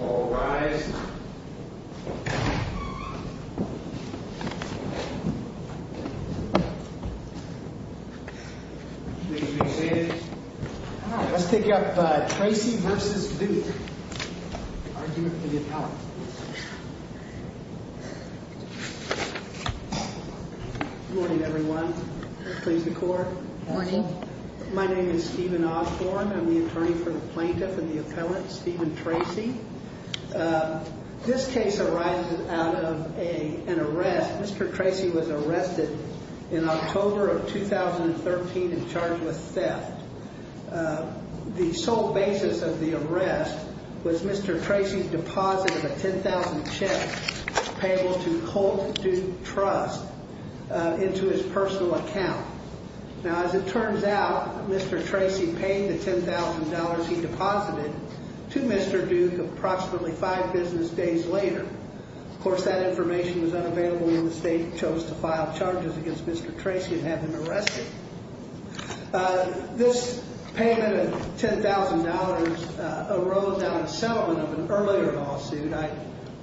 All rise. Please be seated. Let's take up Tracy v. Duke. Argument to the appellant. Good morning, everyone. Please be quiet. Good morning. My name is Stephen Osborne. I'm the attorney for the plaintiff and the appellant, Stephen Tracy. This case arises out of an arrest. Mr. Tracy was arrested in October of 2013 and charged with theft. The sole basis of the arrest was Mr. Tracy's deposit of a $10,000 check, payable to Colt Duke Trust, into his personal account. Now, as it turns out, Mr. Tracy paid the $10,000 he deposited to Mr. Duke approximately five business days later. Of course, that information was unavailable when the state chose to file charges against Mr. Tracy and have him arrested. This payment of $10,000 arose out of settlement of an earlier lawsuit. I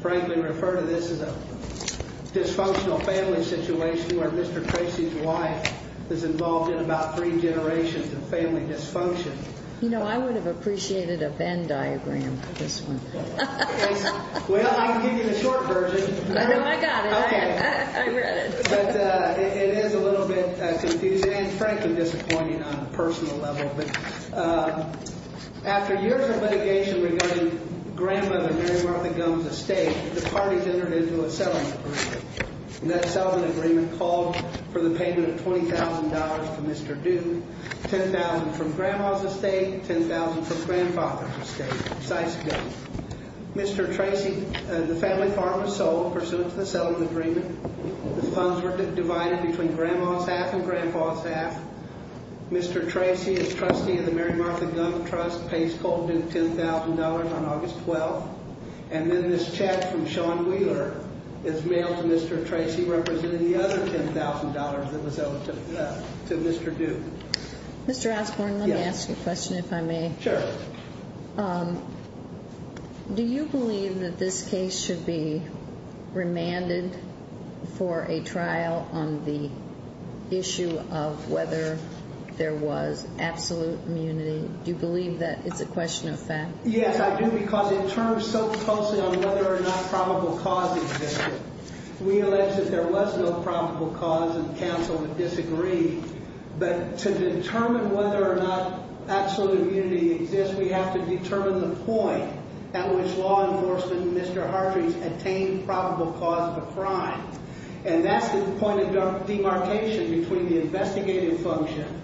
frankly refer to this as a dysfunctional family situation where Mr. Tracy's wife is involved in about three generations of family dysfunction. You know, I would have appreciated a Venn diagram for this one. Well, I can give you the short version. No, I got it. I read it. But it is a little bit confusing and frankly disappointing on a personal level. But after years of litigation regarding grandmother Mary Martha Gumbs' estate, the parties entered into a settlement agreement. That settlement agreement called for the payment of $20,000 to Mr. Duke, $10,000 from grandma's estate, $10,000 from grandfather's estate. Mr. Tracy, the family farm was sold pursuant to the settlement agreement. The funds were divided between grandma's half and grandpa's half. Mr. Tracy, as trustee of the Mary Martha Gumbs Trust, pays Colt Duke $10,000 on August 12th. And then this check from Sean Wheeler is mailed to Mr. Tracy representing the other $10,000 that was owed to Mr. Duke. Mr. Osborne, let me ask you a question if I may. Sure. Do you believe that this case should be remanded for a trial on the issue of whether there was absolute immunity? Do you believe that it's a question of fact? Yes, I do because it turns so closely on whether or not probable cause existed. We allege that there was no probable cause, and counsel would disagree. But to determine whether or not absolute immunity exists, we have to determine the point at which law enforcement and Mr. Hartree attained probable cause of a crime. And that's the point of demarcation between the investigative function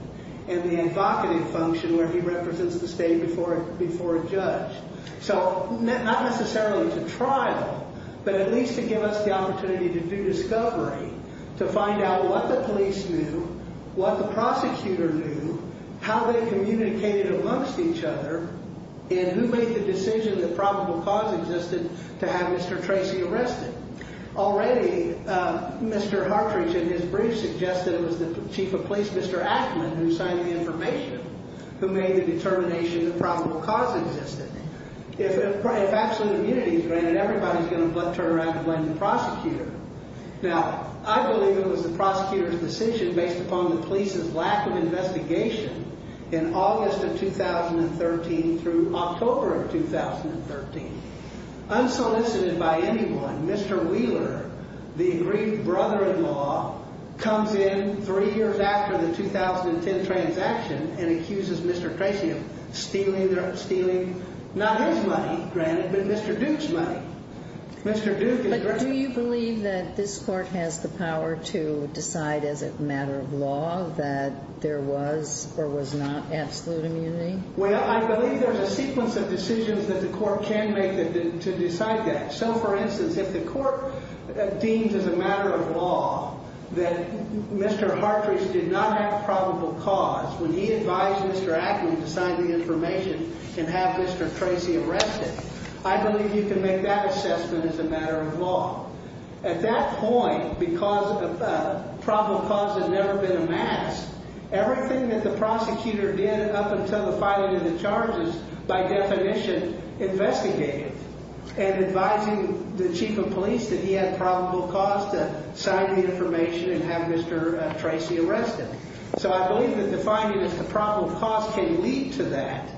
and the advocative function where he represents the state before a judge. So not necessarily to trial, but at least to give us the opportunity to do discovery, to find out what the police knew, what the prosecutor knew, how they communicated amongst each other, and who made the decision that probable cause existed to have Mr. Tracy arrested. Already, Mr. Hartree, in his brief, suggested it was the chief of police, Mr. Ackman, who signed the information, who made the determination that probable cause existed. If absolute immunity is granted, everybody's going to turn around and blame the prosecutor. Now, I believe it was the prosecutor's decision based upon the police's lack of investigation in August of 2013 through October of 2013. Unsolicited by anyone, Mr. Wheeler, the aggrieved brother-in-law, comes in three years after the 2010 transaction and accuses Mr. Tracy of stealing, not his money, granted, but Mr. Duke's money. But do you believe that this Court has the power to decide as a matter of law that there was or was not absolute immunity? Well, I believe there's a sequence of decisions that the Court can make to decide that. So, for instance, if the Court deems as a matter of law that Mr. Hartree did not have probable cause when he advised Mr. Ackman to sign the information and have Mr. Tracy arrested, I believe you can make that assessment as a matter of law. At that point, because probable cause had never been amassed, everything that the prosecutor did up until the filing of the charges, by definition, investigated and advising the chief of police that he had probable cause to sign the information and have Mr. Tracy arrested. So I believe that the finding is the probable cause can lead to that.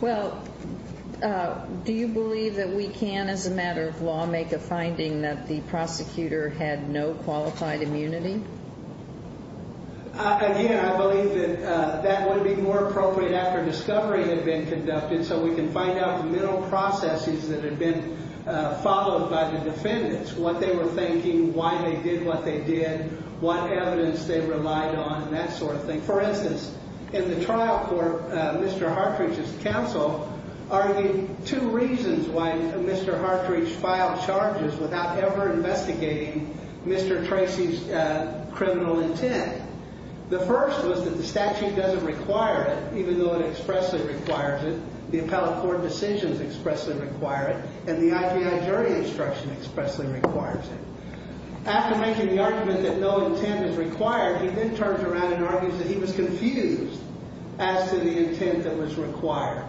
Well, do you believe that we can, as a matter of law, make a finding that the prosecutor had no qualified immunity? Again, I believe that that would be more appropriate after discovery had been conducted so we can find out the middle processes that had been followed by the defendants, what they were thinking, why they did what they did, what evidence they relied on, that sort of thing. For instance, in the trial court, Mr. Hartree's counsel argued two reasons why Mr. Hartree filed charges without ever investigating Mr. Tracy's criminal intent. The first was that the statute doesn't require it, even though it expressly requires it. The appellate court decisions expressly require it, and the IPI jury instruction expressly requires it. After making the argument that no intent is required, he then turns around and argues that he was confused as to the intent that was required.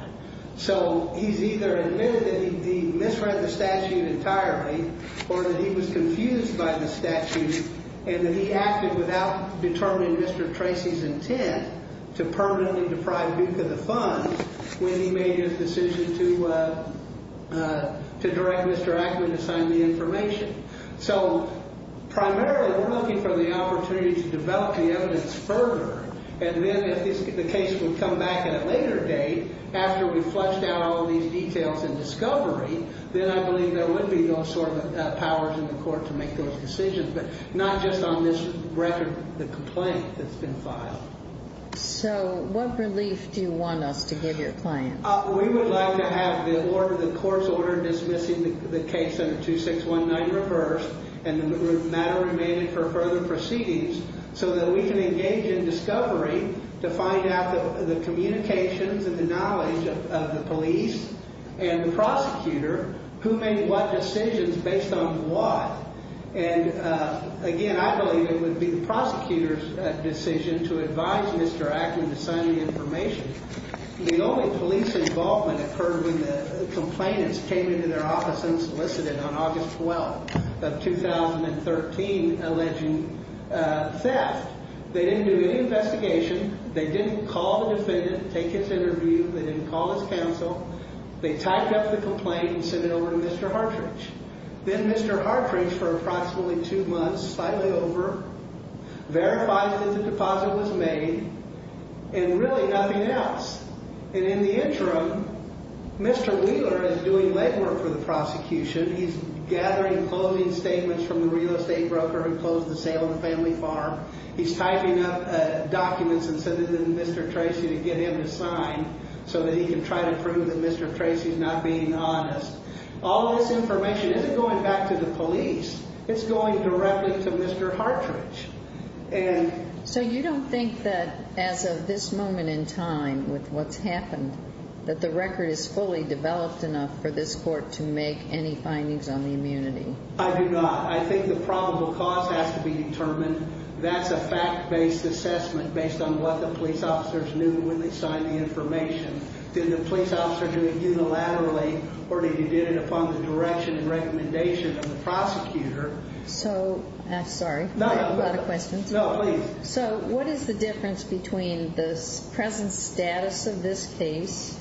So he's either admitted that he misread the statute entirely or that he was confused by the statute and that he acted without determining Mr. Tracy's intent to permanently deprive Duke of the funds when he made his decision to direct Mr. Ackman to sign the information. So primarily we're looking for the opportunity to develop the evidence further, and then if the case would come back at a later date after we've fleshed out all these details and discovery, then I believe there would be those sort of powers in the court to make those decisions, but not just on this record, the complaint that's been filed. So what relief do you want us to give your client? We would like to have the court's order dismissing the case under 2619 reversed and the matter remaining for further proceedings so that we can engage in discovery to find out the communications and the knowledge of the police and the prosecutor who made what decisions based on what. And again, I believe it would be the prosecutor's decision to advise Mr. Ackman to sign the information. The only police involvement occurred when the complainants came into their office and solicited on August 12th of 2013 alleging theft. They didn't do any investigation. They didn't call the defendant, take his interview. They didn't call his counsel. They typed up the complaint and sent it over to Mr. Hartridge. Then Mr. Hartridge, for approximately two months, filed it over, verified that the deposit was made, and really nothing else. And in the interim, Mr. Wheeler is doing legwork for the prosecution. He's gathering closing statements from the real estate broker who closed the sale of the family farm. He's typing up documents and sending them to Mr. Tracy to get him to sign so that he can try to prove that Mr. Tracy's not being honest. All this information isn't going back to the police. It's going directly to Mr. Hartridge. So you don't think that as of this moment in time with what's happened, that the record is fully developed enough for this court to make any findings on the immunity? I do not. I think the probable cause has to be determined. That's a fact-based assessment based on what the police officers knew when they signed the information. Did the police officers do it unilaterally, or did they do it upon the direction and recommendation of the prosecutor? So, I'm sorry, I have a lot of questions. No, please. So what is the difference between the present status of this case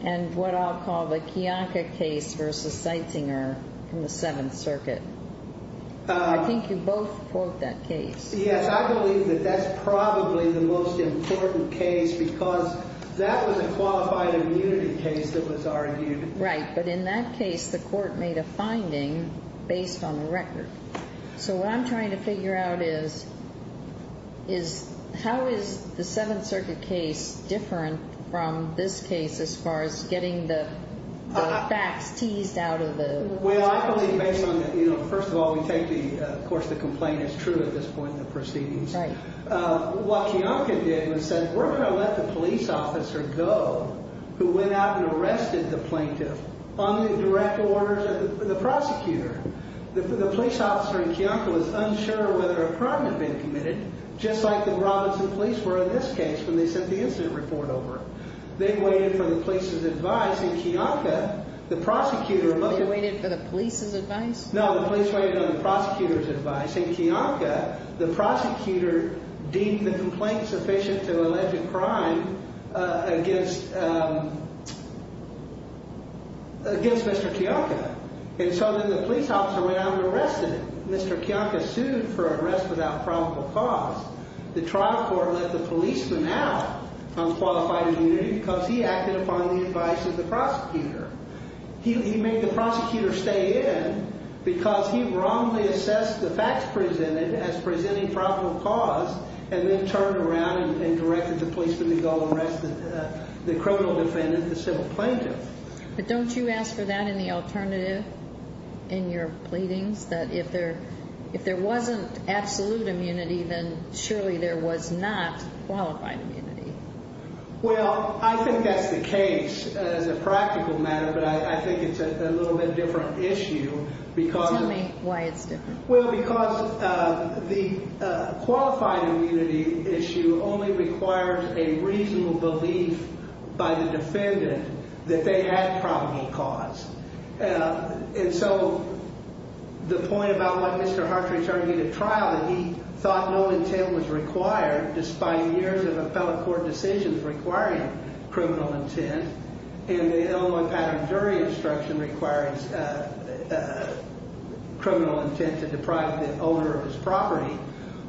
and what I'll call the Kionka case versus Seitzinger in the Seventh Circuit? I think you both quote that case. Yes, I believe that that's probably the most important case because that was a qualified immunity case that was argued. Right, but in that case, the court made a finding based on the record. So what I'm trying to figure out is how is the Seventh Circuit case different from this case as far as getting the facts teased out of the case? Well, I believe based on the, you know, first of all, we take the, of course, the complaint is true at this point in the proceedings. Right. What Kionka did was said we're going to let the police officer go who went out and arrested the plaintiff on the direct orders of the prosecutor. The police officer in Kionka was unsure whether a crime had been committed just like the Robinson police were in this case when they sent the incident report over. They waited for the police's advice. In Kionka, the prosecutor— They waited for the police's advice? No, the police waited on the prosecutor's advice. In Kionka, the prosecutor deemed the complaint sufficient to allege a crime against Mr. Kionka. And so then the police officer went out and arrested him. Mr. Kionka sued for arrest without probable cause. The trial court let the policeman out on qualified immunity He made the prosecutor stay in because he wrongly assessed the facts presented as presenting probable cause and then turned around and directed the policeman to go arrest the criminal defendant, the civil plaintiff. But don't you ask for that in the alternative in your pleadings? That if there wasn't absolute immunity, then surely there was not qualified immunity. Well, I think that's the case as a practical matter, but I think it's a little bit different issue because— Tell me why it's different. Well, because the qualified immunity issue only requires a reasonable belief by the defendant that they had probable cause. And so the point about what Mr. Hartridge argued at trial, he thought no intent was required despite years of appellate court decisions requiring criminal intent. And the Illinois patent jury instruction requires criminal intent to deprive the owner of his property.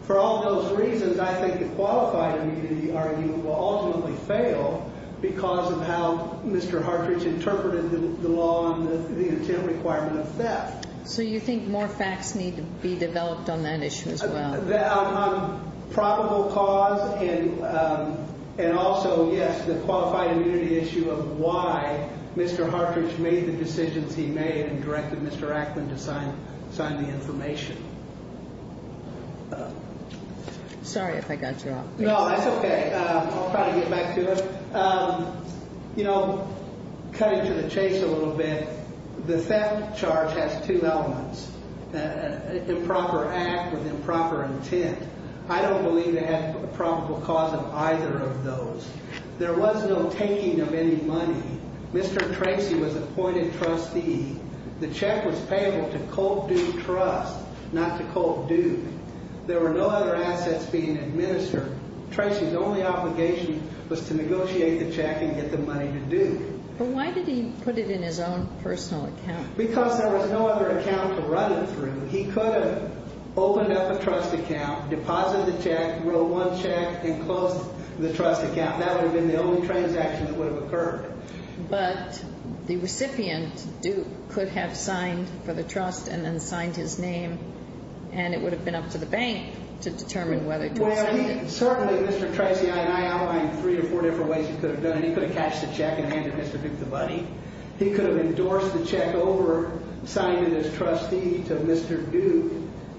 For all those reasons, I think the qualified immunity argument will ultimately fail because of how Mr. Hartridge interpreted the law and the intent requirement of theft. So you think more facts need to be developed on that issue as well? On probable cause and also, yes, the qualified immunity issue of why Mr. Hartridge made the decisions he made and directed Mr. Ackman to sign the information. Sorry if I got you off base. No, that's okay. I'll try to get back to it. You know, cutting to the chase a little bit, the theft charge has two elements, improper act with improper intent. I don't believe they had probable cause of either of those. There was no taking of any money. Mr. Tracy was appointed trustee. The check was payable to Colt Duke Trust, not to Colt Duke. There were no other assets being administered. Mr. Tracy's only obligation was to negotiate the check and get the money to Duke. But why did he put it in his own personal account? Because there was no other account to run it through. He could have opened up a trust account, deposited the check, wrote one check, and closed the trust account. That would have been the only transaction that would have occurred. But the recipient, Duke, could have signed for the trust and then signed his name, and it would have been up to the bank to determine whether to sign it. Certainly, Mr. Tracy and I outlined three or four different ways he could have done it. He could have cashed the check and handed Mr. Duke the money. He could have endorsed the check over, signed it as trustee to Mr. Duke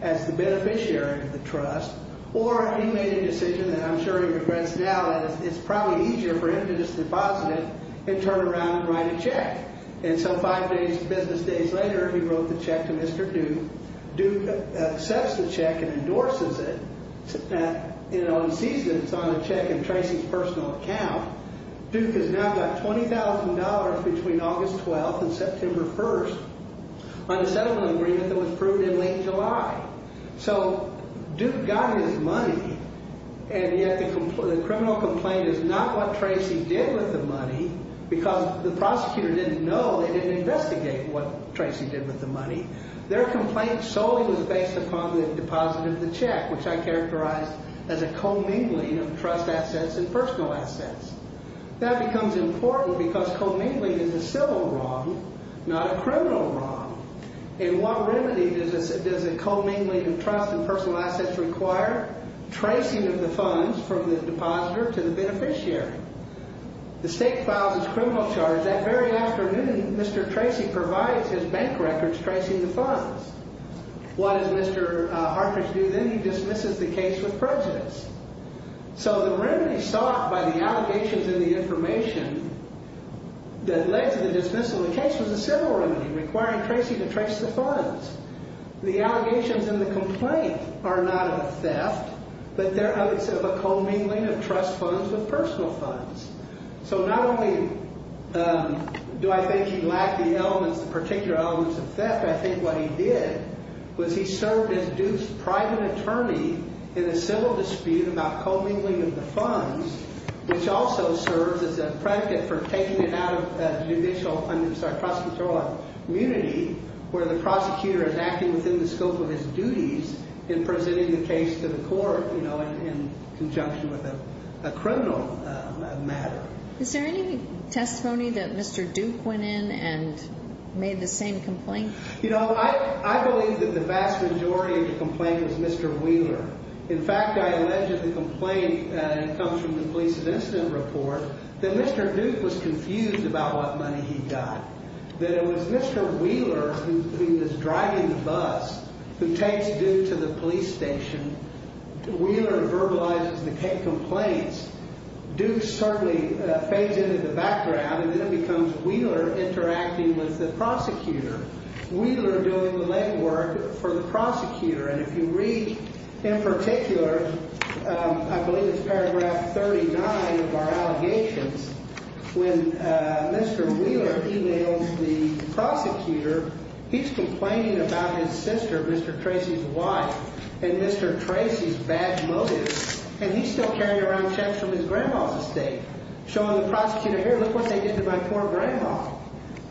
as the beneficiary of the trust. Or he made a decision, and I'm sure he regrets now, that it's probably easier for him to just deposit it and turn around and write a check. And so five business days later, he wrote the check to Mr. Duke. Duke accepts the check and endorses it and sees that it's on a check in Tracy's personal account. Duke has now got $20,000 between August 12th and September 1st on a settlement agreement that was approved in late July. So Duke got his money, and yet the criminal complaint is not what Tracy did with the money because the prosecutor didn't know, they didn't investigate what Tracy did with the money. Their complaint solely was based upon the deposit of the check, which I characterized as a commingling of trust assets and personal assets. That becomes important because commingling is a civil wrong, not a criminal wrong. And what remedy does a commingling of trust and personal assets require? Tracing of the funds from the depositor to the beneficiary. The state files its criminal charge. That very afternoon, Mr. Tracy provides his bank records tracing the funds. What does Mr. Hartridge do then? He dismisses the case with prejudice. So the remedy sought by the allegations in the information that led to the dismissal of the case was a civil remedy requiring Tracy to trace the funds. The allegations in the complaint are not of theft, but they're of a commingling of trust funds with personal funds. So not only do I think he lacked the elements, the particular elements of theft, I think what he did was he served as Duke's private attorney in a civil dispute about commingling of the funds, which also serves as a predicate for taking it out of judicial, I'm sorry, prosecutorial immunity, where the prosecutor is acting within the scope of his duties in presenting the case to the court, you know, in conjunction with a criminal matter. Is there any testimony that Mr. Duke went in and made the same complaint? You know, I believe that the vast majority of the complaint is Mr. Wheeler. In fact, I allege that the complaint comes from the police's incident report that Mr. Duke was confused about what money he got, that it was Mr. Wheeler who was driving the bus who takes Duke to the police station. Wheeler verbalizes the complaints. Duke certainly fades into the background, and then it becomes Wheeler interacting with the prosecutor, Wheeler doing the legwork for the prosecutor. And if you read in particular, I believe it's paragraph 39 of our allegations, when Mr. Wheeler emails the prosecutor, he's complaining about his sister, Mr. Tracy's wife, and Mr. Tracy's bad motives. And he's still carrying around checks from his grandma's estate, showing the prosecutor, here, look what they did to my poor grandma.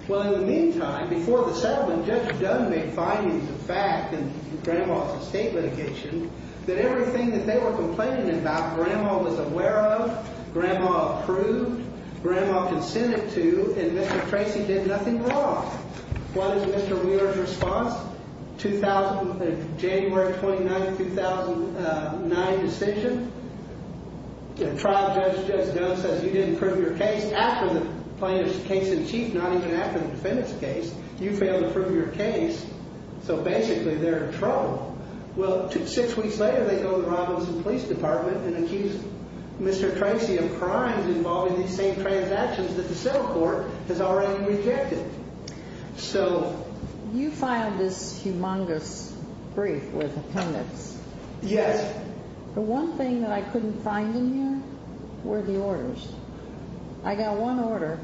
Well, in the meantime, before the settlement, Judge Dunn made findings of fact in grandma's estate litigation that everything that they were complaining about, grandma was aware of, grandma approved, grandma consented to, and Mr. Tracy did nothing wrong. One is Mr. Wheeler's response, January 29, 2009 decision. The trial judge, Judge Dunn, says you didn't prove your case after the plaintiff's case in chief, not even after the defendant's case. You failed to prove your case, so basically they're in trouble. Well, six weeks later, they go to the Robinson Police Department and accuse Mr. Tracy of crimes involving these same transactions that the civil court has already rejected. So you filed this humongous brief with opponents. Yes. The one thing that I couldn't find in here were the orders. I got one order,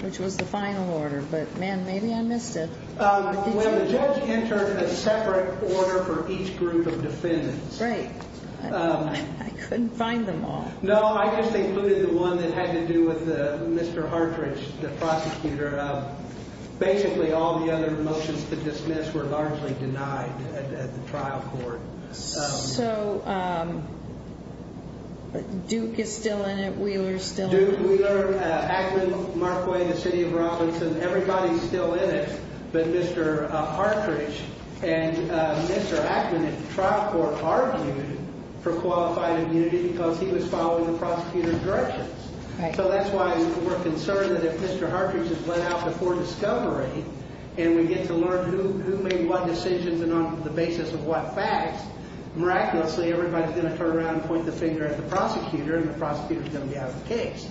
which was the final order, but, man, maybe I missed it. Well, the judge entered a separate order for each group of defendants. Right. I couldn't find them all. No, I just included the one that had to do with Mr. Hartridge, the prosecutor. Basically, all the other motions to dismiss were largely denied at the trial court. So Duke is still in it, Wheeler is still in it? Duke, Wheeler, Ackman, Markway, the city of Robinson, everybody's still in it but Mr. Hartridge. And Mr. Ackman at the trial court argued for qualified immunity because he was following the prosecutor's directions. Right. So that's why we're concerned that if Mr. Hartridge is let out before discovery and we get to learn who made what decisions and on the basis of what facts, miraculously everybody's going to turn around and point the finger at the prosecutor and the prosecutor's going to be out of the case.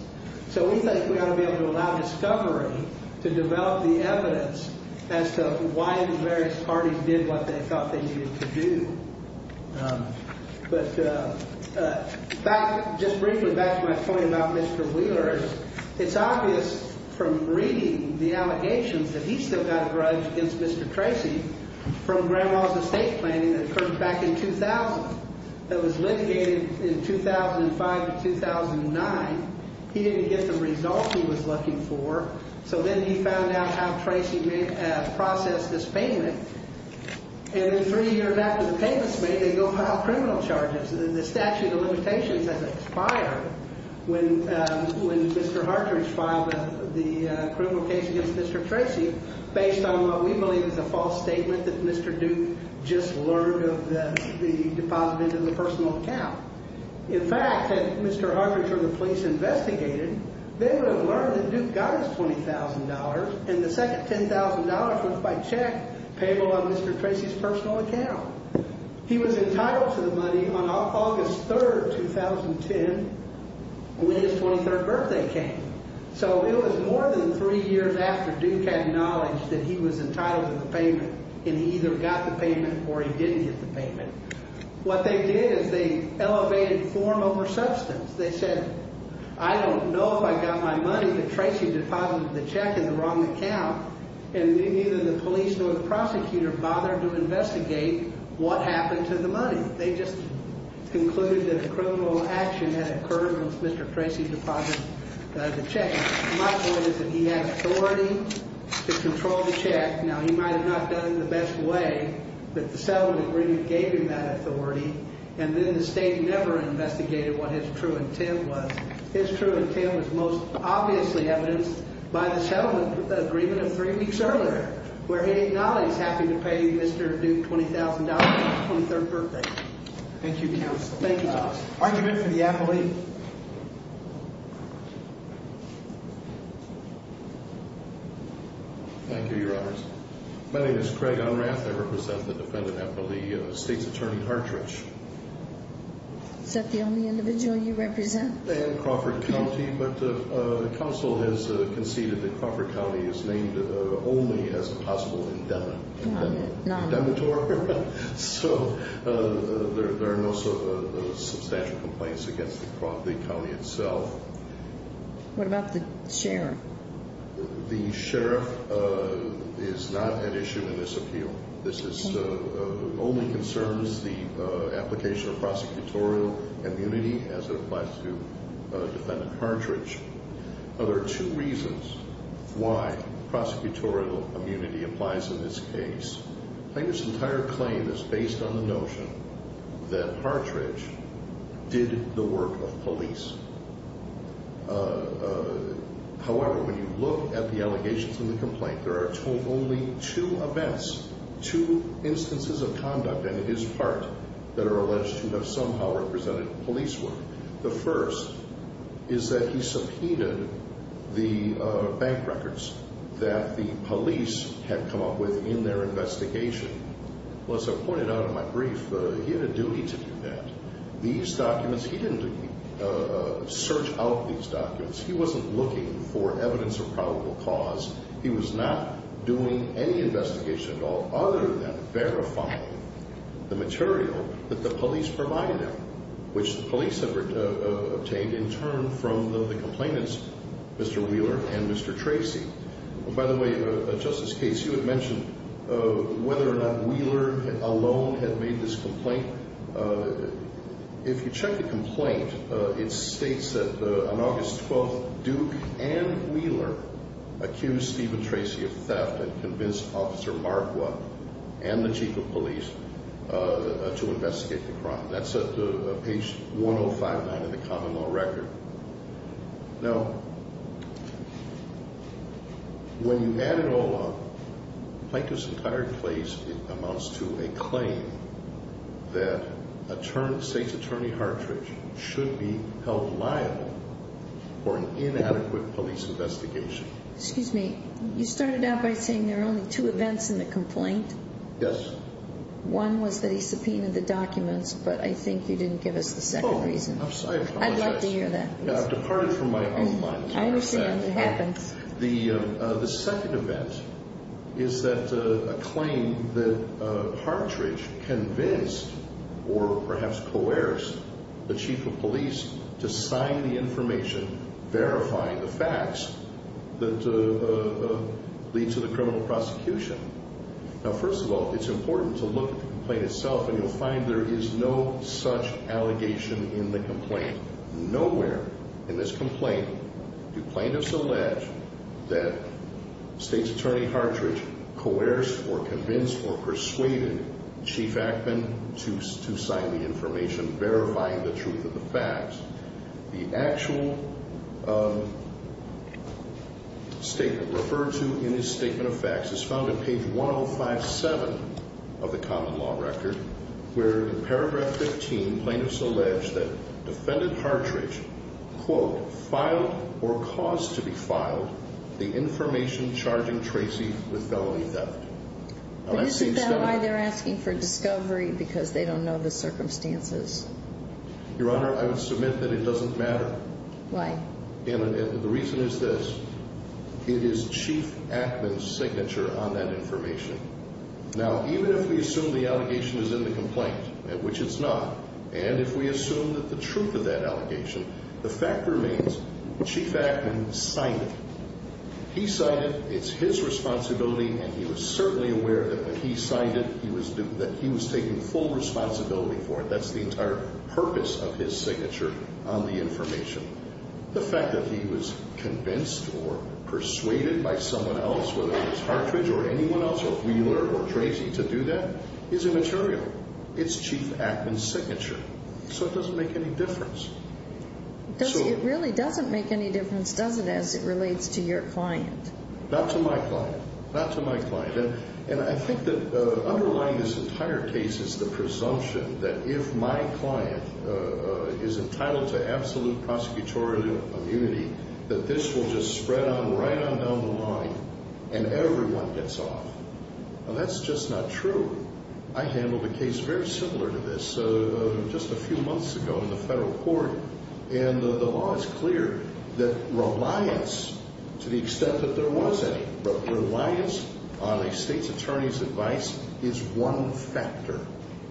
So we think we ought to be able to allow discovery to develop the evidence as to why the various parties did what they thought they needed to do. But just briefly back to my point about Mr. Wheeler. It's obvious from reading the allegations that he still got a grudge against Mr. Tracy from Grandma's estate planning that occurred back in 2000. That was litigated in 2005 to 2009. He didn't get the results he was looking for. So then he found out how Tracy processed this payment. And three years after the payment's made, they go file criminal charges. The statute of limitations has expired when Mr. Hartridge filed the criminal case against Mr. Tracy based on what we believe is a false statement that Mr. Duke just learned of the deposit into the personal account. In fact, had Mr. Hartridge or the police investigated, they would have learned that Duke got his $20,000 and the second $10,000 was by check payable on Mr. Tracy's personal account. He was entitled to the money on August 3, 2010 when his 23rd birthday came. So it was more than three years after Duke had knowledge that he was entitled to the payment and he either got the payment or he didn't get the payment. What they did is they elevated form over substance. They said, I don't know if I got my money, but Tracy deposited the check in the wrong account. And neither the police nor the prosecutor bothered to investigate what happened to the money. They just concluded that a criminal action had occurred once Mr. Tracy deposited the check. My point is that he had authority to control the check. Now, he might have not done the best way, but the settlement agreement gave him that authority. And then the state never investigated what his true intent was. His true intent was most obviously evidenced by the settlement agreement of three weeks earlier where he acknowledged having to pay Mr. Duke $20,000 on his 23rd birthday. Thank you, counsel. Thank you, counsel. Argument for the appellee. Thank you, Your Honors. My name is Craig Unrath. I represent the defendant appellee, State's Attorney Hartridge. Is that the only individual you represent? And Crawford County. But counsel has conceded that Crawford County is named only as a possible indemnitor. So there are no substantial complaints against the county itself. What about the sheriff? The sheriff is not an issue in this appeal. This only concerns the application of prosecutorial immunity as it applies to defendant Hartridge. Now, there are two reasons why prosecutorial immunity applies in this case. Plaintiff's entire claim is based on the notion that Hartridge did the work of police. However, when you look at the allegations in the complaint, there are only two events, two instances of conduct in his part that are alleged to have somehow represented police work. The first is that he subpoenaed the bank records that the police had come up with in their investigation. Well, as I pointed out in my brief, he had a duty to do that. These documents, he didn't search out these documents. He wasn't looking for evidence of probable cause. He was not doing any investigation at all other than verifying the material that the police provided him, which the police have obtained in turn from the complainants, Mr. Wheeler and Mr. Tracy. By the way, Justice Case, you had mentioned whether or not Wheeler alone had made this complaint. If you check the complaint, it states that on August 12th, Duke and Wheeler accused Stephen Tracy of theft and convinced Officer Marqua and the chief of police to investigate the crime. That's at page 1059 in the common law record. Now, when you add it all up, Plaintiff's entire case amounts to a claim that state's attorney Hartridge should be held liable for an inadequate police investigation. Excuse me, you started out by saying there are only two events in the complaint. Yes. One was that he subpoenaed the documents, but I think you didn't give us the second reason. I'd love to hear that. I've departed from my own mind. I understand. It happens. The second event is that a claim that Hartridge convinced or perhaps coerced the chief of police to sign the information verifying the facts that lead to the criminal prosecution. Now, first of all, it's important to look at the complaint itself and you'll find there is no such allegation in the complaint. Nowhere in this complaint do plaintiffs allege that state's attorney Hartridge coerced or convinced or persuaded Chief Ackman to sign the information verifying the truth of the facts. The actual statement referred to in his statement of facts is found in page 1057 of the common law record where in paragraph 15, plaintiffs allege that defendant Hartridge, quote, filed or caused to be filed the information charging Tracy with felony theft. But isn't that why they're asking for discovery because they don't know the circumstances? Your Honor, I would submit that it doesn't matter. Why? The reason is this. It is Chief Ackman's signature on that information. Now, even if we assume the allegation is in the complaint, which it's not, and if we assume that the truth of that allegation, the fact remains Chief Ackman signed it. He signed it. It's his responsibility and he was certainly aware that when he signed it, he was taking full responsibility for it. That's the entire purpose of his signature on the information. The fact that he was convinced or persuaded by someone else, whether it was Hartridge or anyone else or Wheeler or Tracy to do that is immaterial. It's Chief Ackman's signature. So it doesn't make any difference. It really doesn't make any difference, does it, as it relates to your client? Not to my client. Not to my client. And I think that underlying this entire case is the presumption that if my client is entitled to absolute prosecutorial immunity, that this will just spread on right on down the line and everyone gets off. Now, that's just not true. I handled a case very similar to this just a few months ago in the federal court, and the law is clear that reliance, to the extent that there was any, but reliance on a state's attorney's advice is one factor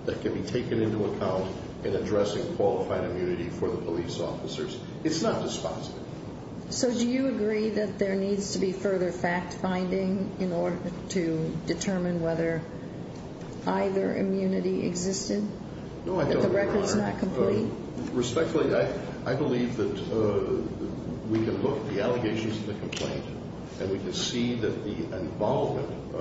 that can be taken into account in addressing qualified immunity for the police officers. It's not dispositive. So do you agree that there needs to be further fact-finding in order to determine whether either immunity existed? No, I don't agree. If the record's not complete? Respectfully, I believe that we can look at the allegations of the complaint and we can see that the involvement,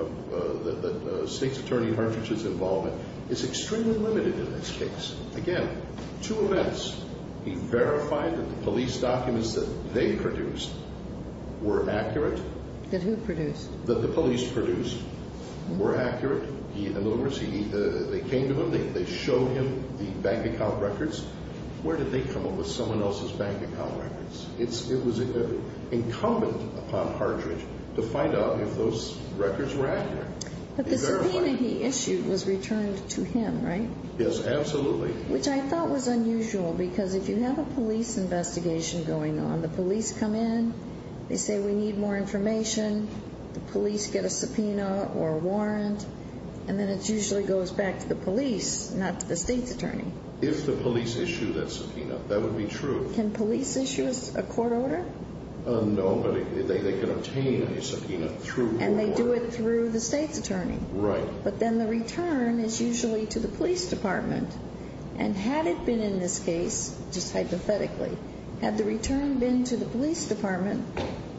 that the state's attorney Hartridge's involvement is extremely limited in this case. Again, two events. He verified that the police documents that they produced were accurate. That who produced? That the police produced were accurate. In other words, they came to him, they showed him the bank account records. Where did they come up with someone else's bank account records? It was incumbent upon Hartridge to find out if those records were accurate. But the subpoena he issued was returned to him, right? Yes, absolutely. Which I thought was unusual because if you have a police investigation going on, the police come in, they say we need more information, the police get a subpoena or a warrant, and then it usually goes back to the police, not to the state's attorney. If the police issue that subpoena, that would be true. Can police issue a court order? No, but they can obtain a subpoena through court order. And they do it through the state's attorney. Right. But then the return is usually to the police department. And had it been in this case, just hypothetically, had the return been to the police department,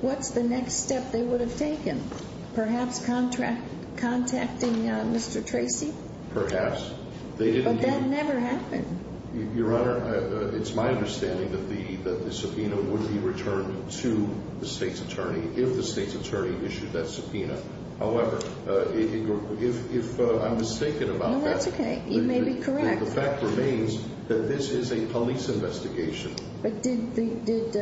what's the next step they would have taken? Perhaps contacting Mr. Tracy? Perhaps. But that never happened. Your Honor, it's my understanding that the subpoena would be returned to the state's attorney if the state's attorney issued that subpoena. However, if I'm mistaken about that. No, that's okay. You may be correct. The fact remains that this is a police investigation. But did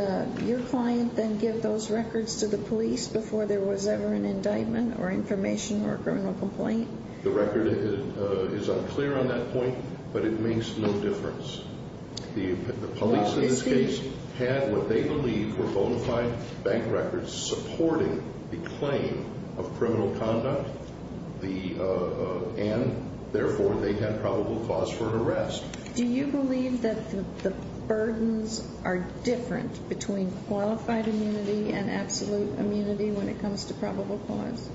your client then give those records to the police before there was ever an indictment or information or a criminal complaint? The record is unclear on that point, but it makes no difference. The police in this case had what they believe were bona fide bank records supporting the claim of criminal conduct. And, therefore, they had probable cause for an arrest. Do you believe that the burdens are different between qualified immunity and absolute immunity when it comes to probable cause?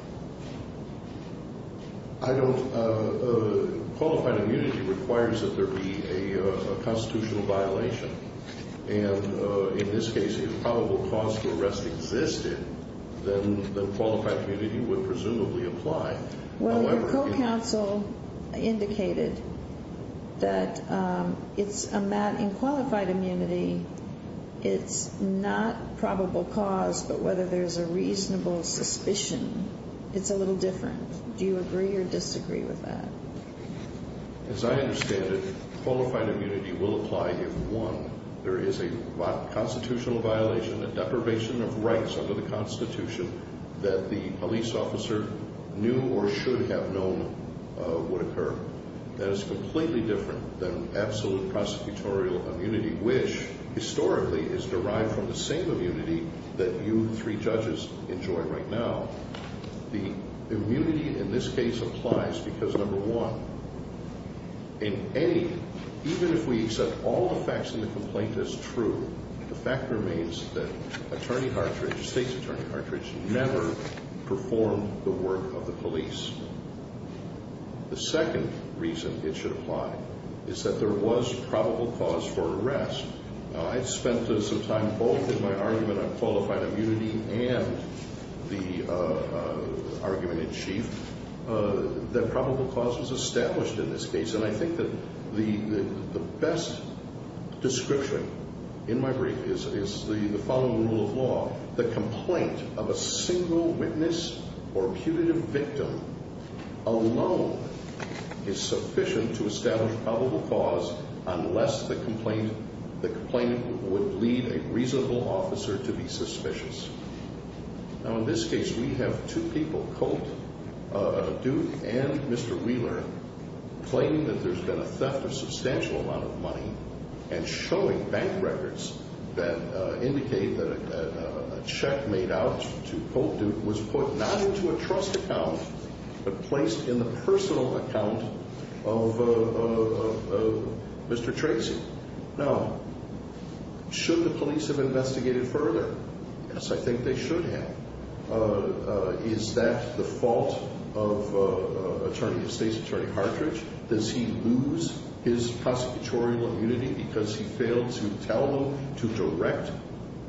I don't. Qualified immunity requires that there be a constitutional violation. And in this case, if probable cause for arrest existed, then qualified immunity would presumably apply. Well, your co-counsel indicated that in qualified immunity, it's not probable cause, but whether there's a reasonable suspicion, it's a little different. Do you agree or disagree with that? As I understand it, qualified immunity will apply if, one, there is a constitutional violation, a deprivation of rights under the Constitution that the police officer knew or should have known would occur. That is completely different than absolute prosecutorial immunity, which, historically, is derived from the same immunity that you three judges enjoy right now. The immunity in this case applies because, number one, in A, even if we accept all the facts in the complaint as true, the fact remains that Attorney Hartridge, the State's Attorney Hartridge, never performed the work of the police. The second reason it should apply is that there was probable cause for arrest. Now, I spent some time both in my argument on qualified immunity and the argument in chief that probable cause was established in this case. And I think that the best description in my brief is the following rule of law. The complaint of a single witness or punitive victim alone is sufficient to establish probable cause unless the complaint would lead a reasonable officer to be suspicious. Now, in this case, we have two people, Colt Duke and Mr. Wheeler, claiming that there's been a theft of a substantial amount of money and showing bank records that indicate that a check made out to Colt Duke was put not into a trust account but placed in the personal account of Mr. Tracy. Now, should the police have investigated further? Yes, I think they should have. Is that the fault of State's Attorney Hartridge? Does he lose his prosecutorial immunity because he failed to tell them to direct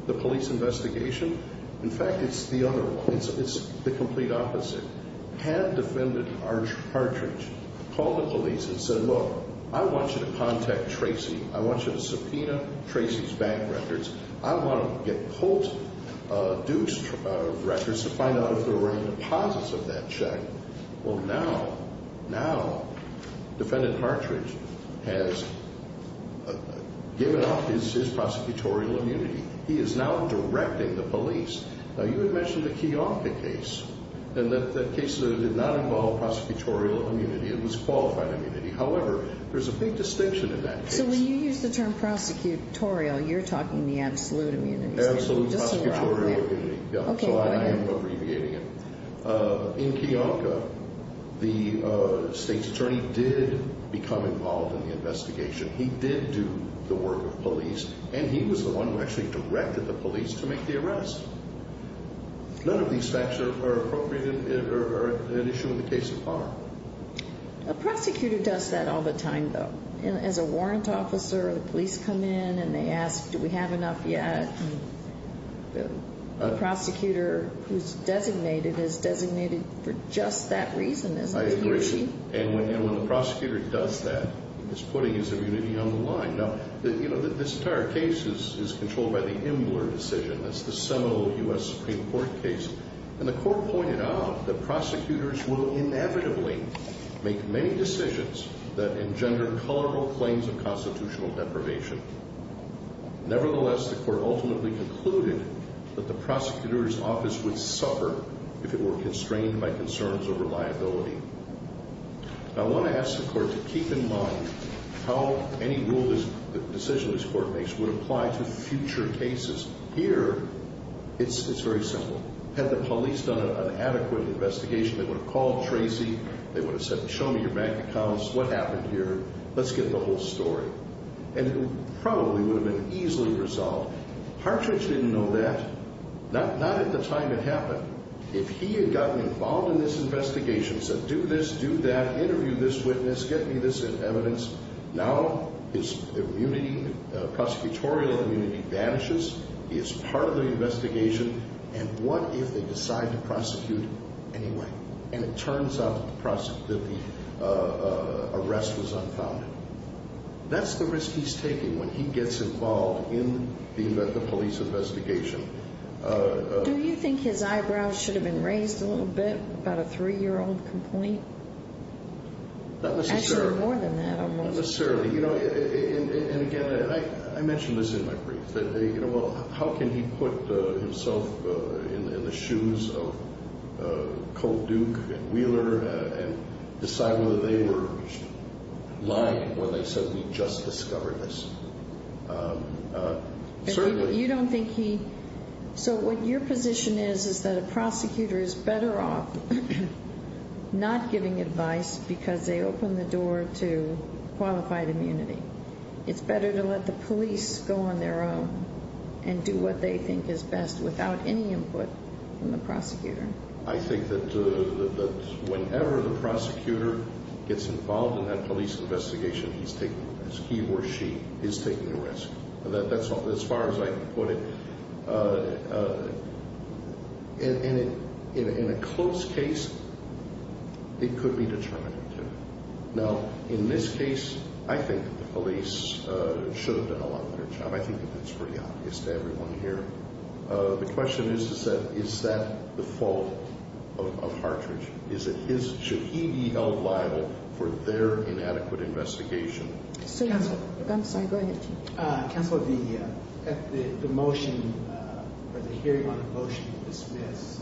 the police investigation? In fact, it's the other one. It's the complete opposite. Had Defendant Hartridge called the police and said, look, I want you to contact Tracy. I want you to subpoena Tracy's bank records. I want to get Colt Duke's records to find out if there were any deposits of that check. Well, now, now, Defendant Hartridge has given up his prosecutorial immunity. He is now directing the police. Now, you had mentioned the Kiyonka case, and that case did not involve prosecutorial immunity. It was qualified immunity. However, there's a big distinction in that case. So when you use the term prosecutorial, you're talking the absolute immunity. Absolute prosecutorial immunity, yeah. Okay, go ahead. So I am abbreviating it. In Kiyonka, the State's Attorney did become involved in the investigation. He did do the work of police, and he was the one who actually directed the police to make the arrest. None of these facts are appropriate or an issue in the case of harm. A prosecutor does that all the time, though. As a warrant officer, the police come in and they ask, do we have enough yet? A prosecutor who's designated is designated for just that reason, isn't it? I agree. And when the prosecutor does that, he's putting his immunity on the line. Now, you know, this entire case is controlled by the Imler decision. That's the seminal U.S. Supreme Court case. And the Court pointed out that prosecutors will inevitably make many decisions that engender colorful claims of constitutional deprivation. Nevertheless, the Court ultimately concluded that the prosecutor's office would suffer if it were constrained by concerns over liability. Now, I want to ask the Court to keep in mind how any decision this Court makes would apply to future cases. Here, it's very simple. Had the police done an adequate investigation, they would have called Tracy, they would have said, show me your bank accounts, what happened here, let's get the whole story. And it probably would have been easily resolved. Partridge didn't know that. Not at the time it happened. If he had gotten involved in this investigation, said, do this, do that, interview this witness, get me this evidence, now his prosecutorial immunity vanishes, he is part of the investigation, and what if they decide to prosecute anyway? And it turns out that the arrest was unfounded. That's the risk he's taking when he gets involved in the police investigation. Do you think his eyebrows should have been raised a little bit about a three-year-old complaint? Not necessarily. Actually, more than that. Not necessarily. And again, I mentioned this in my brief. How can he put himself in the shoes of Colt Duke and Wheeler and decide whether they were lying when they said we just discovered this? You don't think he... So what your position is is that a prosecutor is better off not giving advice because they open the door to qualified immunity. It's better to let the police go on their own and do what they think is best without any input from the prosecutor. I think that whenever the prosecutor gets involved in that police investigation, he's taking a risk. He or she is taking a risk. As far as I can put it, in a close case, it could be determinative. Now, in this case, I think the police should have done a lot better job. I think that's pretty obvious to everyone here. The question is, is that the fault of Hartridge? Is it his? Should he be held liable for their inadequate investigation? I'm sorry. Go ahead. Counselor, the motion or the hearing on the motion to dismiss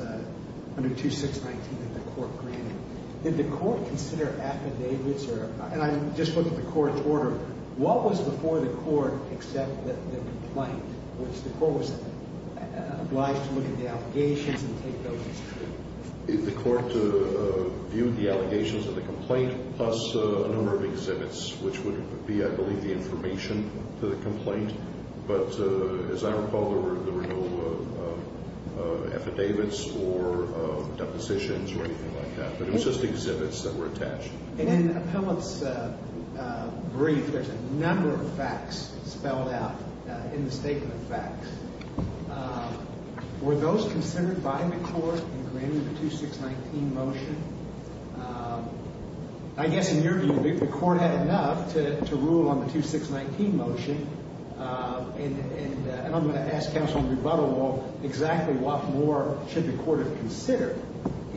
under 2619 that the court granted, did the court consider affidavits? And I'm just looking at the court's order. What was before the court except the complaint, which the court was obliged to look at the allegations and take those as true? The court viewed the allegations of the complaint plus a number of exhibits, which would be, I believe, the information to the complaint. But as I recall, there were no affidavits or depositions or anything like that, but it was just exhibits that were attached. And in the appellant's brief, there's a number of facts spelled out in the statement of facts. Were those considered by the court in granting the 2619 motion? I guess in your view, the court had enough to rule on the 2619 motion. And I'm going to ask counsel in rebuttal, well, exactly what more should the court have considered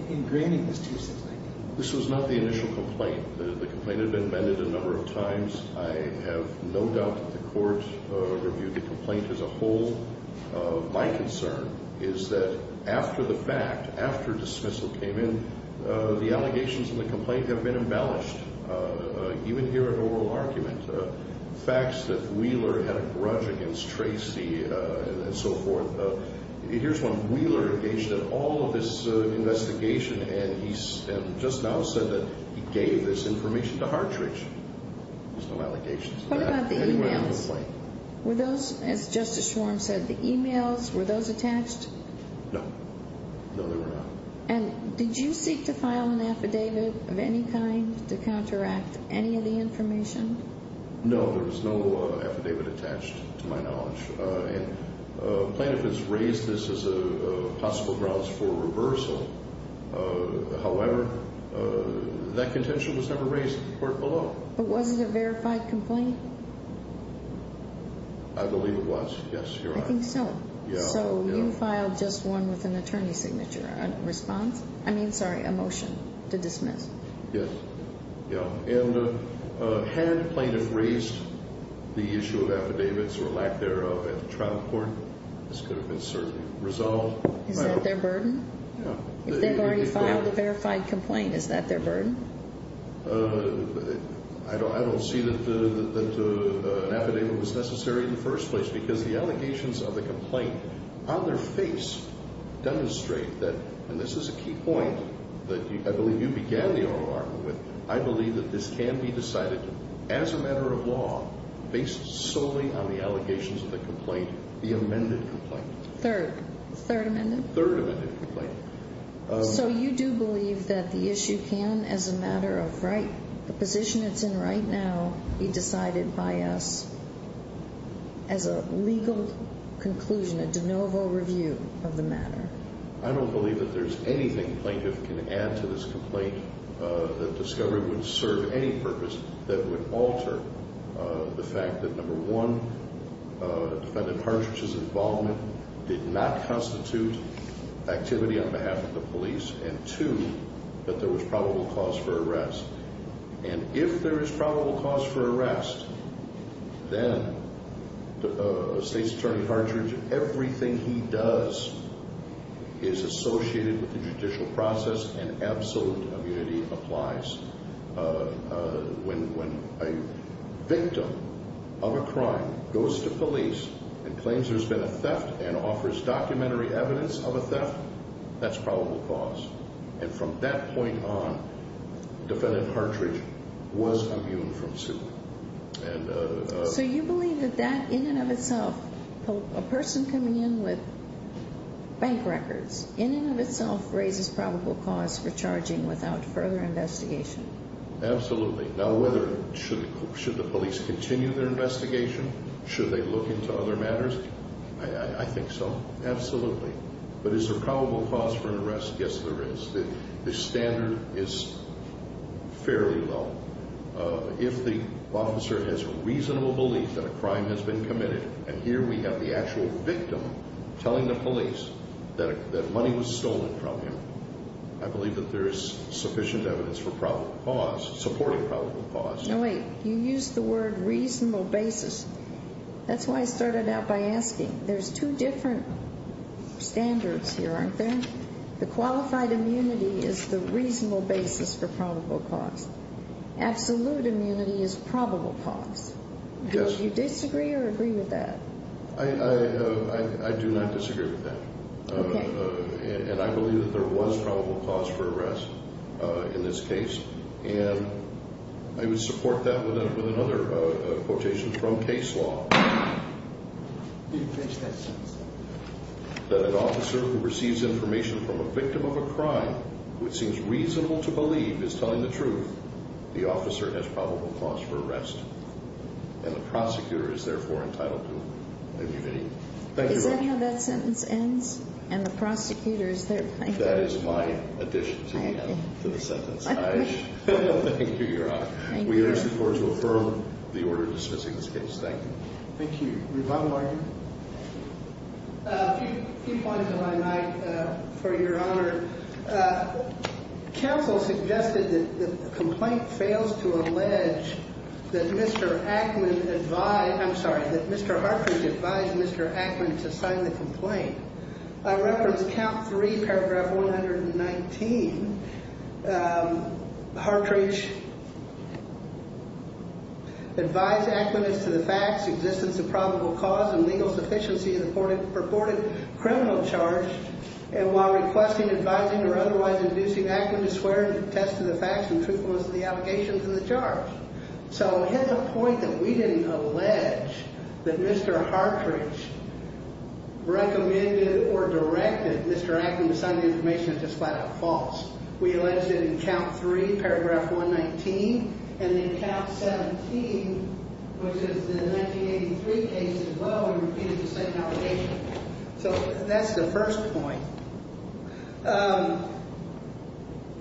in granting this 2619? This was not the initial complaint. The complaint had been amended a number of times. I have no doubt that the court reviewed the complaint as a whole. My concern is that after the fact, after dismissal came in, the allegations in the complaint have been embellished, even here in oral argument. Facts that Wheeler had a grudge against Tracy and so forth. Here's one. Wheeler engaged in all of this investigation, and he just now said that he gave this information to Hartridge. There's no allegations of that anywhere in the complaint. What about the e-mails? Were those, as Justice Schwarm said, the e-mails, were those attached? No. No, they were not. And did you seek to file an affidavit of any kind to counteract any of the information? No, there was no affidavit attached to my knowledge. Plaintiff has raised this as a possible grounds for reversal. However, that contention was never raised in the court below. But was it a verified complaint? I believe it was, yes, Your Honor. I think so. So you filed just one with an attorney's signature, a response? I mean, sorry, a motion to dismiss. Yes. And had plaintiff raised the issue of affidavits or lack thereof at the trial court, this could have been certainly resolved. Is that their burden? Yes. If they've already filed a verified complaint, is that their burden? I don't see that an affidavit was necessary in the first place because the allegations of the complaint on their face demonstrate that, and this is a key point that I believe you began the oral argument with, I believe that this can be decided as a matter of law based solely on the allegations of the complaint, the amended complaint. Third. Third amended? Third amended complaint. So you do believe that the issue can, as a matter of right, the position it's in right now, be decided by us as a legal conclusion, a de novo review of the matter? I don't believe that there's anything plaintiff can add to this complaint that discovered would serve any purpose that would alter the fact that, number one, defendant Hartridge's involvement did not constitute activity on behalf of the police, and two, that there was probable cause for arrest. And if there is probable cause for arrest, then State's Attorney Hartridge, everything he does is associated with the judicial process and absolute immunity applies. When a victim of a crime goes to police and claims there's been a theft and offers documentary evidence of a theft, that's probable cause. And from that point on, defendant Hartridge was immune from suit. So you believe that that, in and of itself, a person coming in with bank records, in and of itself raises probable cause for charging without further investigation? Absolutely. Now whether, should the police continue their investigation? Should they look into other matters? I think so. Absolutely. But is there probable cause for arrest? Yes, there is. The standard is fairly low. If the officer has a reasonable belief that a crime has been committed, and here we have the actual victim telling the police that money was stolen from him, I believe that there is sufficient evidence for probable cause, supporting probable cause. Now wait, you used the word reasonable basis. That's why I started out by asking. There's two different standards here, aren't there? The qualified immunity is the reasonable basis for probable cause. Absolute immunity is probable cause. Do you disagree or agree with that? I do not disagree with that. And I believe that there was probable cause for arrest in this case, and I would support that with another quotation from case law. Did you finish that sentence? That an officer who receives information from a victim of a crime which seems reasonable to believe is telling the truth, the officer has probable cause for arrest. And the prosecutor is therefore entitled to immunity. Thank you, Your Honor. Is that how that sentence ends? And the prosecutor is therefore? That is my addition to the sentence. Thank you, Your Honor. We urge the court to affirm the order dismissing this case. Thank you. Thank you. Revato, are you? A few points if I might, for Your Honor. Counsel suggested that the complaint fails to allege that Mr. Hartridge advised Mr. Ackman to sign the complaint. I reference count three, paragraph 119. Hartridge advised Ackman as to the facts, existence of probable cause, and legal sufficiency of the purported criminal charge, and while requesting advising or otherwise inducing Ackman to swear and attest to the facts and truthfulness of the allegations in the charge. So hit the point that we didn't allege that Mr. Hartridge recommended or directed Mr. Ackman to sign the information is just flat out false. We alleged it in count three, paragraph 119. And in count 17, which is the 1983 case as well, we repeated the same allegation. So that's the first point.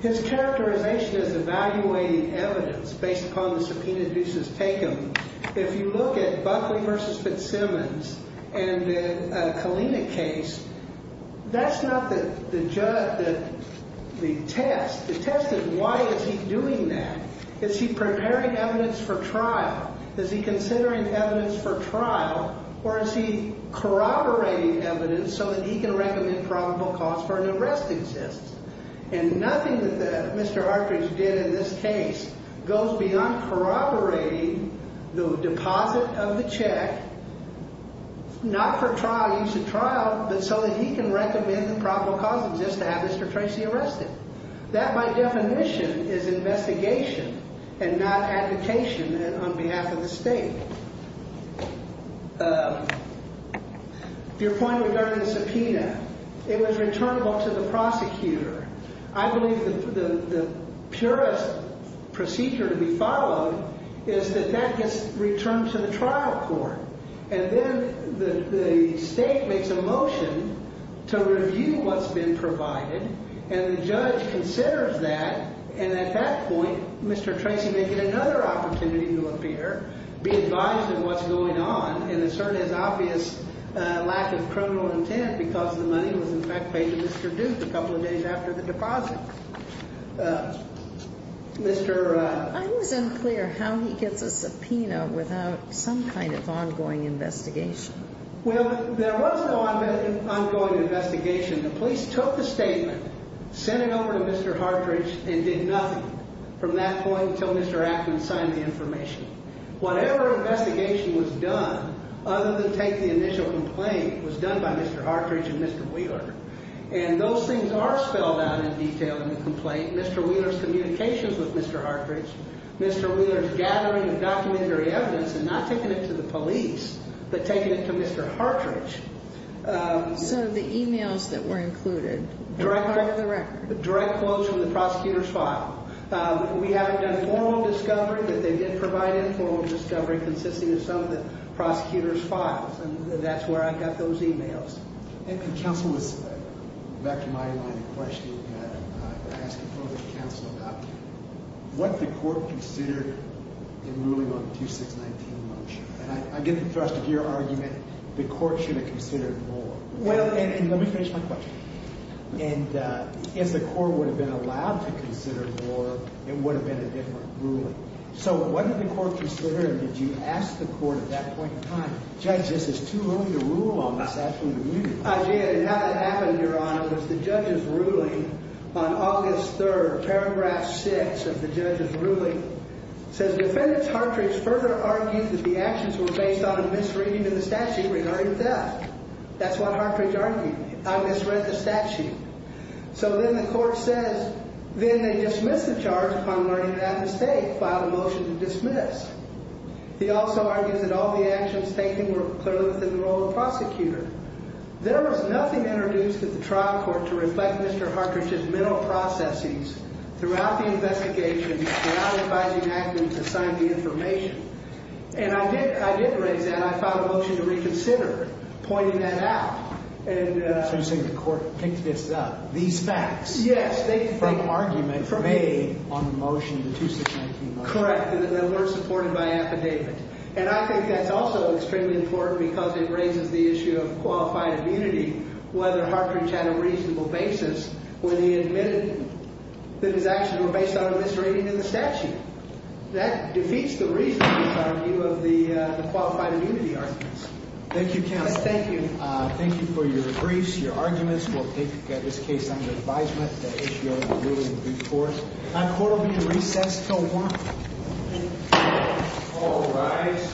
His characterization is evaluating evidence based upon the subpoena dues as taken. If you look at Buckley v. Fitzsimmons and the Kalina case, that's not the test. The test is why is he doing that? Is he preparing evidence for trial? Is he considering evidence for trial, or is he corroborating evidence so that he can recommend probable cause for an arrest exist? And nothing that Mr. Hartridge did in this case goes beyond corroborating the deposit of the check, not for trial, use of trial, but so that he can recommend that probable cause exists to have Mr. Tracy arrested. That, by definition, is investigation and not advocation on behalf of the state. Your point regarding the subpoena, it was returnable to the prosecutor. I believe the purest procedure to be followed is that that gets returned to the trial court. And then the state makes a motion to review what's been provided, and the judge considers that. And at that point, Mr. Tracy may get another opportunity to appear, be advised of what's going on, and assert his obvious lack of criminal intent because the money was, in fact, paid to Mr. Duke a couple of days after the deposit. I was unclear how he gets a subpoena without some kind of ongoing investigation. Well, there was no ongoing investigation. The police took the statement, sent it over to Mr. Hartridge, and did nothing from that point until Mr. Ackman signed the information. Whatever investigation was done, other than take the initial complaint, was done by Mr. Hartridge and Mr. Wheeler. And those things are spelled out in detail in the complaint. Mr. Wheeler's communications with Mr. Hartridge, Mr. Wheeler's gathering of documentary evidence, and not taking it to the police, but taking it to Mr. Hartridge. So the e-mails that were included are part of the record. Direct quotes from the prosecutor's file. We haven't done formal discovery, but they did provide informal discovery consisting of some of the prosecutor's files. And that's where I got those e-mails. And counsel was back to my line of questioning. I asked a question to counsel about what the court considered in ruling on the 2619 motion. And I get the thrust of your argument, the court should have considered more. Well, and let me finish my question. And if the court would have been allowed to consider more, it would have been a different ruling. So what did the court consider, and did you ask the court at that point in time, Judge, this is too early to rule on this actually. I did, and how that happened, Your Honor, was the judge's ruling on August 3rd, paragraph 6 of the judge's ruling, says defendants Hartridge further argued that the actions were based on a misreading of the statute regarding theft. That's what Hartridge argued. I misread the statute. So then the court says, then they dismiss the charge upon learning of that mistake, file a motion to dismiss. He also argues that all the actions taken were clearly within the role of the prosecutor. There was nothing introduced at the trial court to reflect Mr. Hartridge's mental processings throughout the investigation, throughout advising actors assigned to the information. And I did raise that. I filed a motion to reconsider, pointing that out. So you're saying the court picked this up, these facts, from argument made on the motion, the 2619 motion. Correct. That weren't supported by affidavit. And I think that's also extremely important because it raises the issue of qualified immunity, whether Hartridge had a reasonable basis when he admitted that his actions were based on a misreading of the statute. That defeats the reason, in my view, of the qualified immunity arguments. Thank you, counsel. Thank you. Thank you for your briefs, your arguments. We'll take this case under advisement. The issue of a ruling before us. The court will be recessed until 1 p.m. All rise.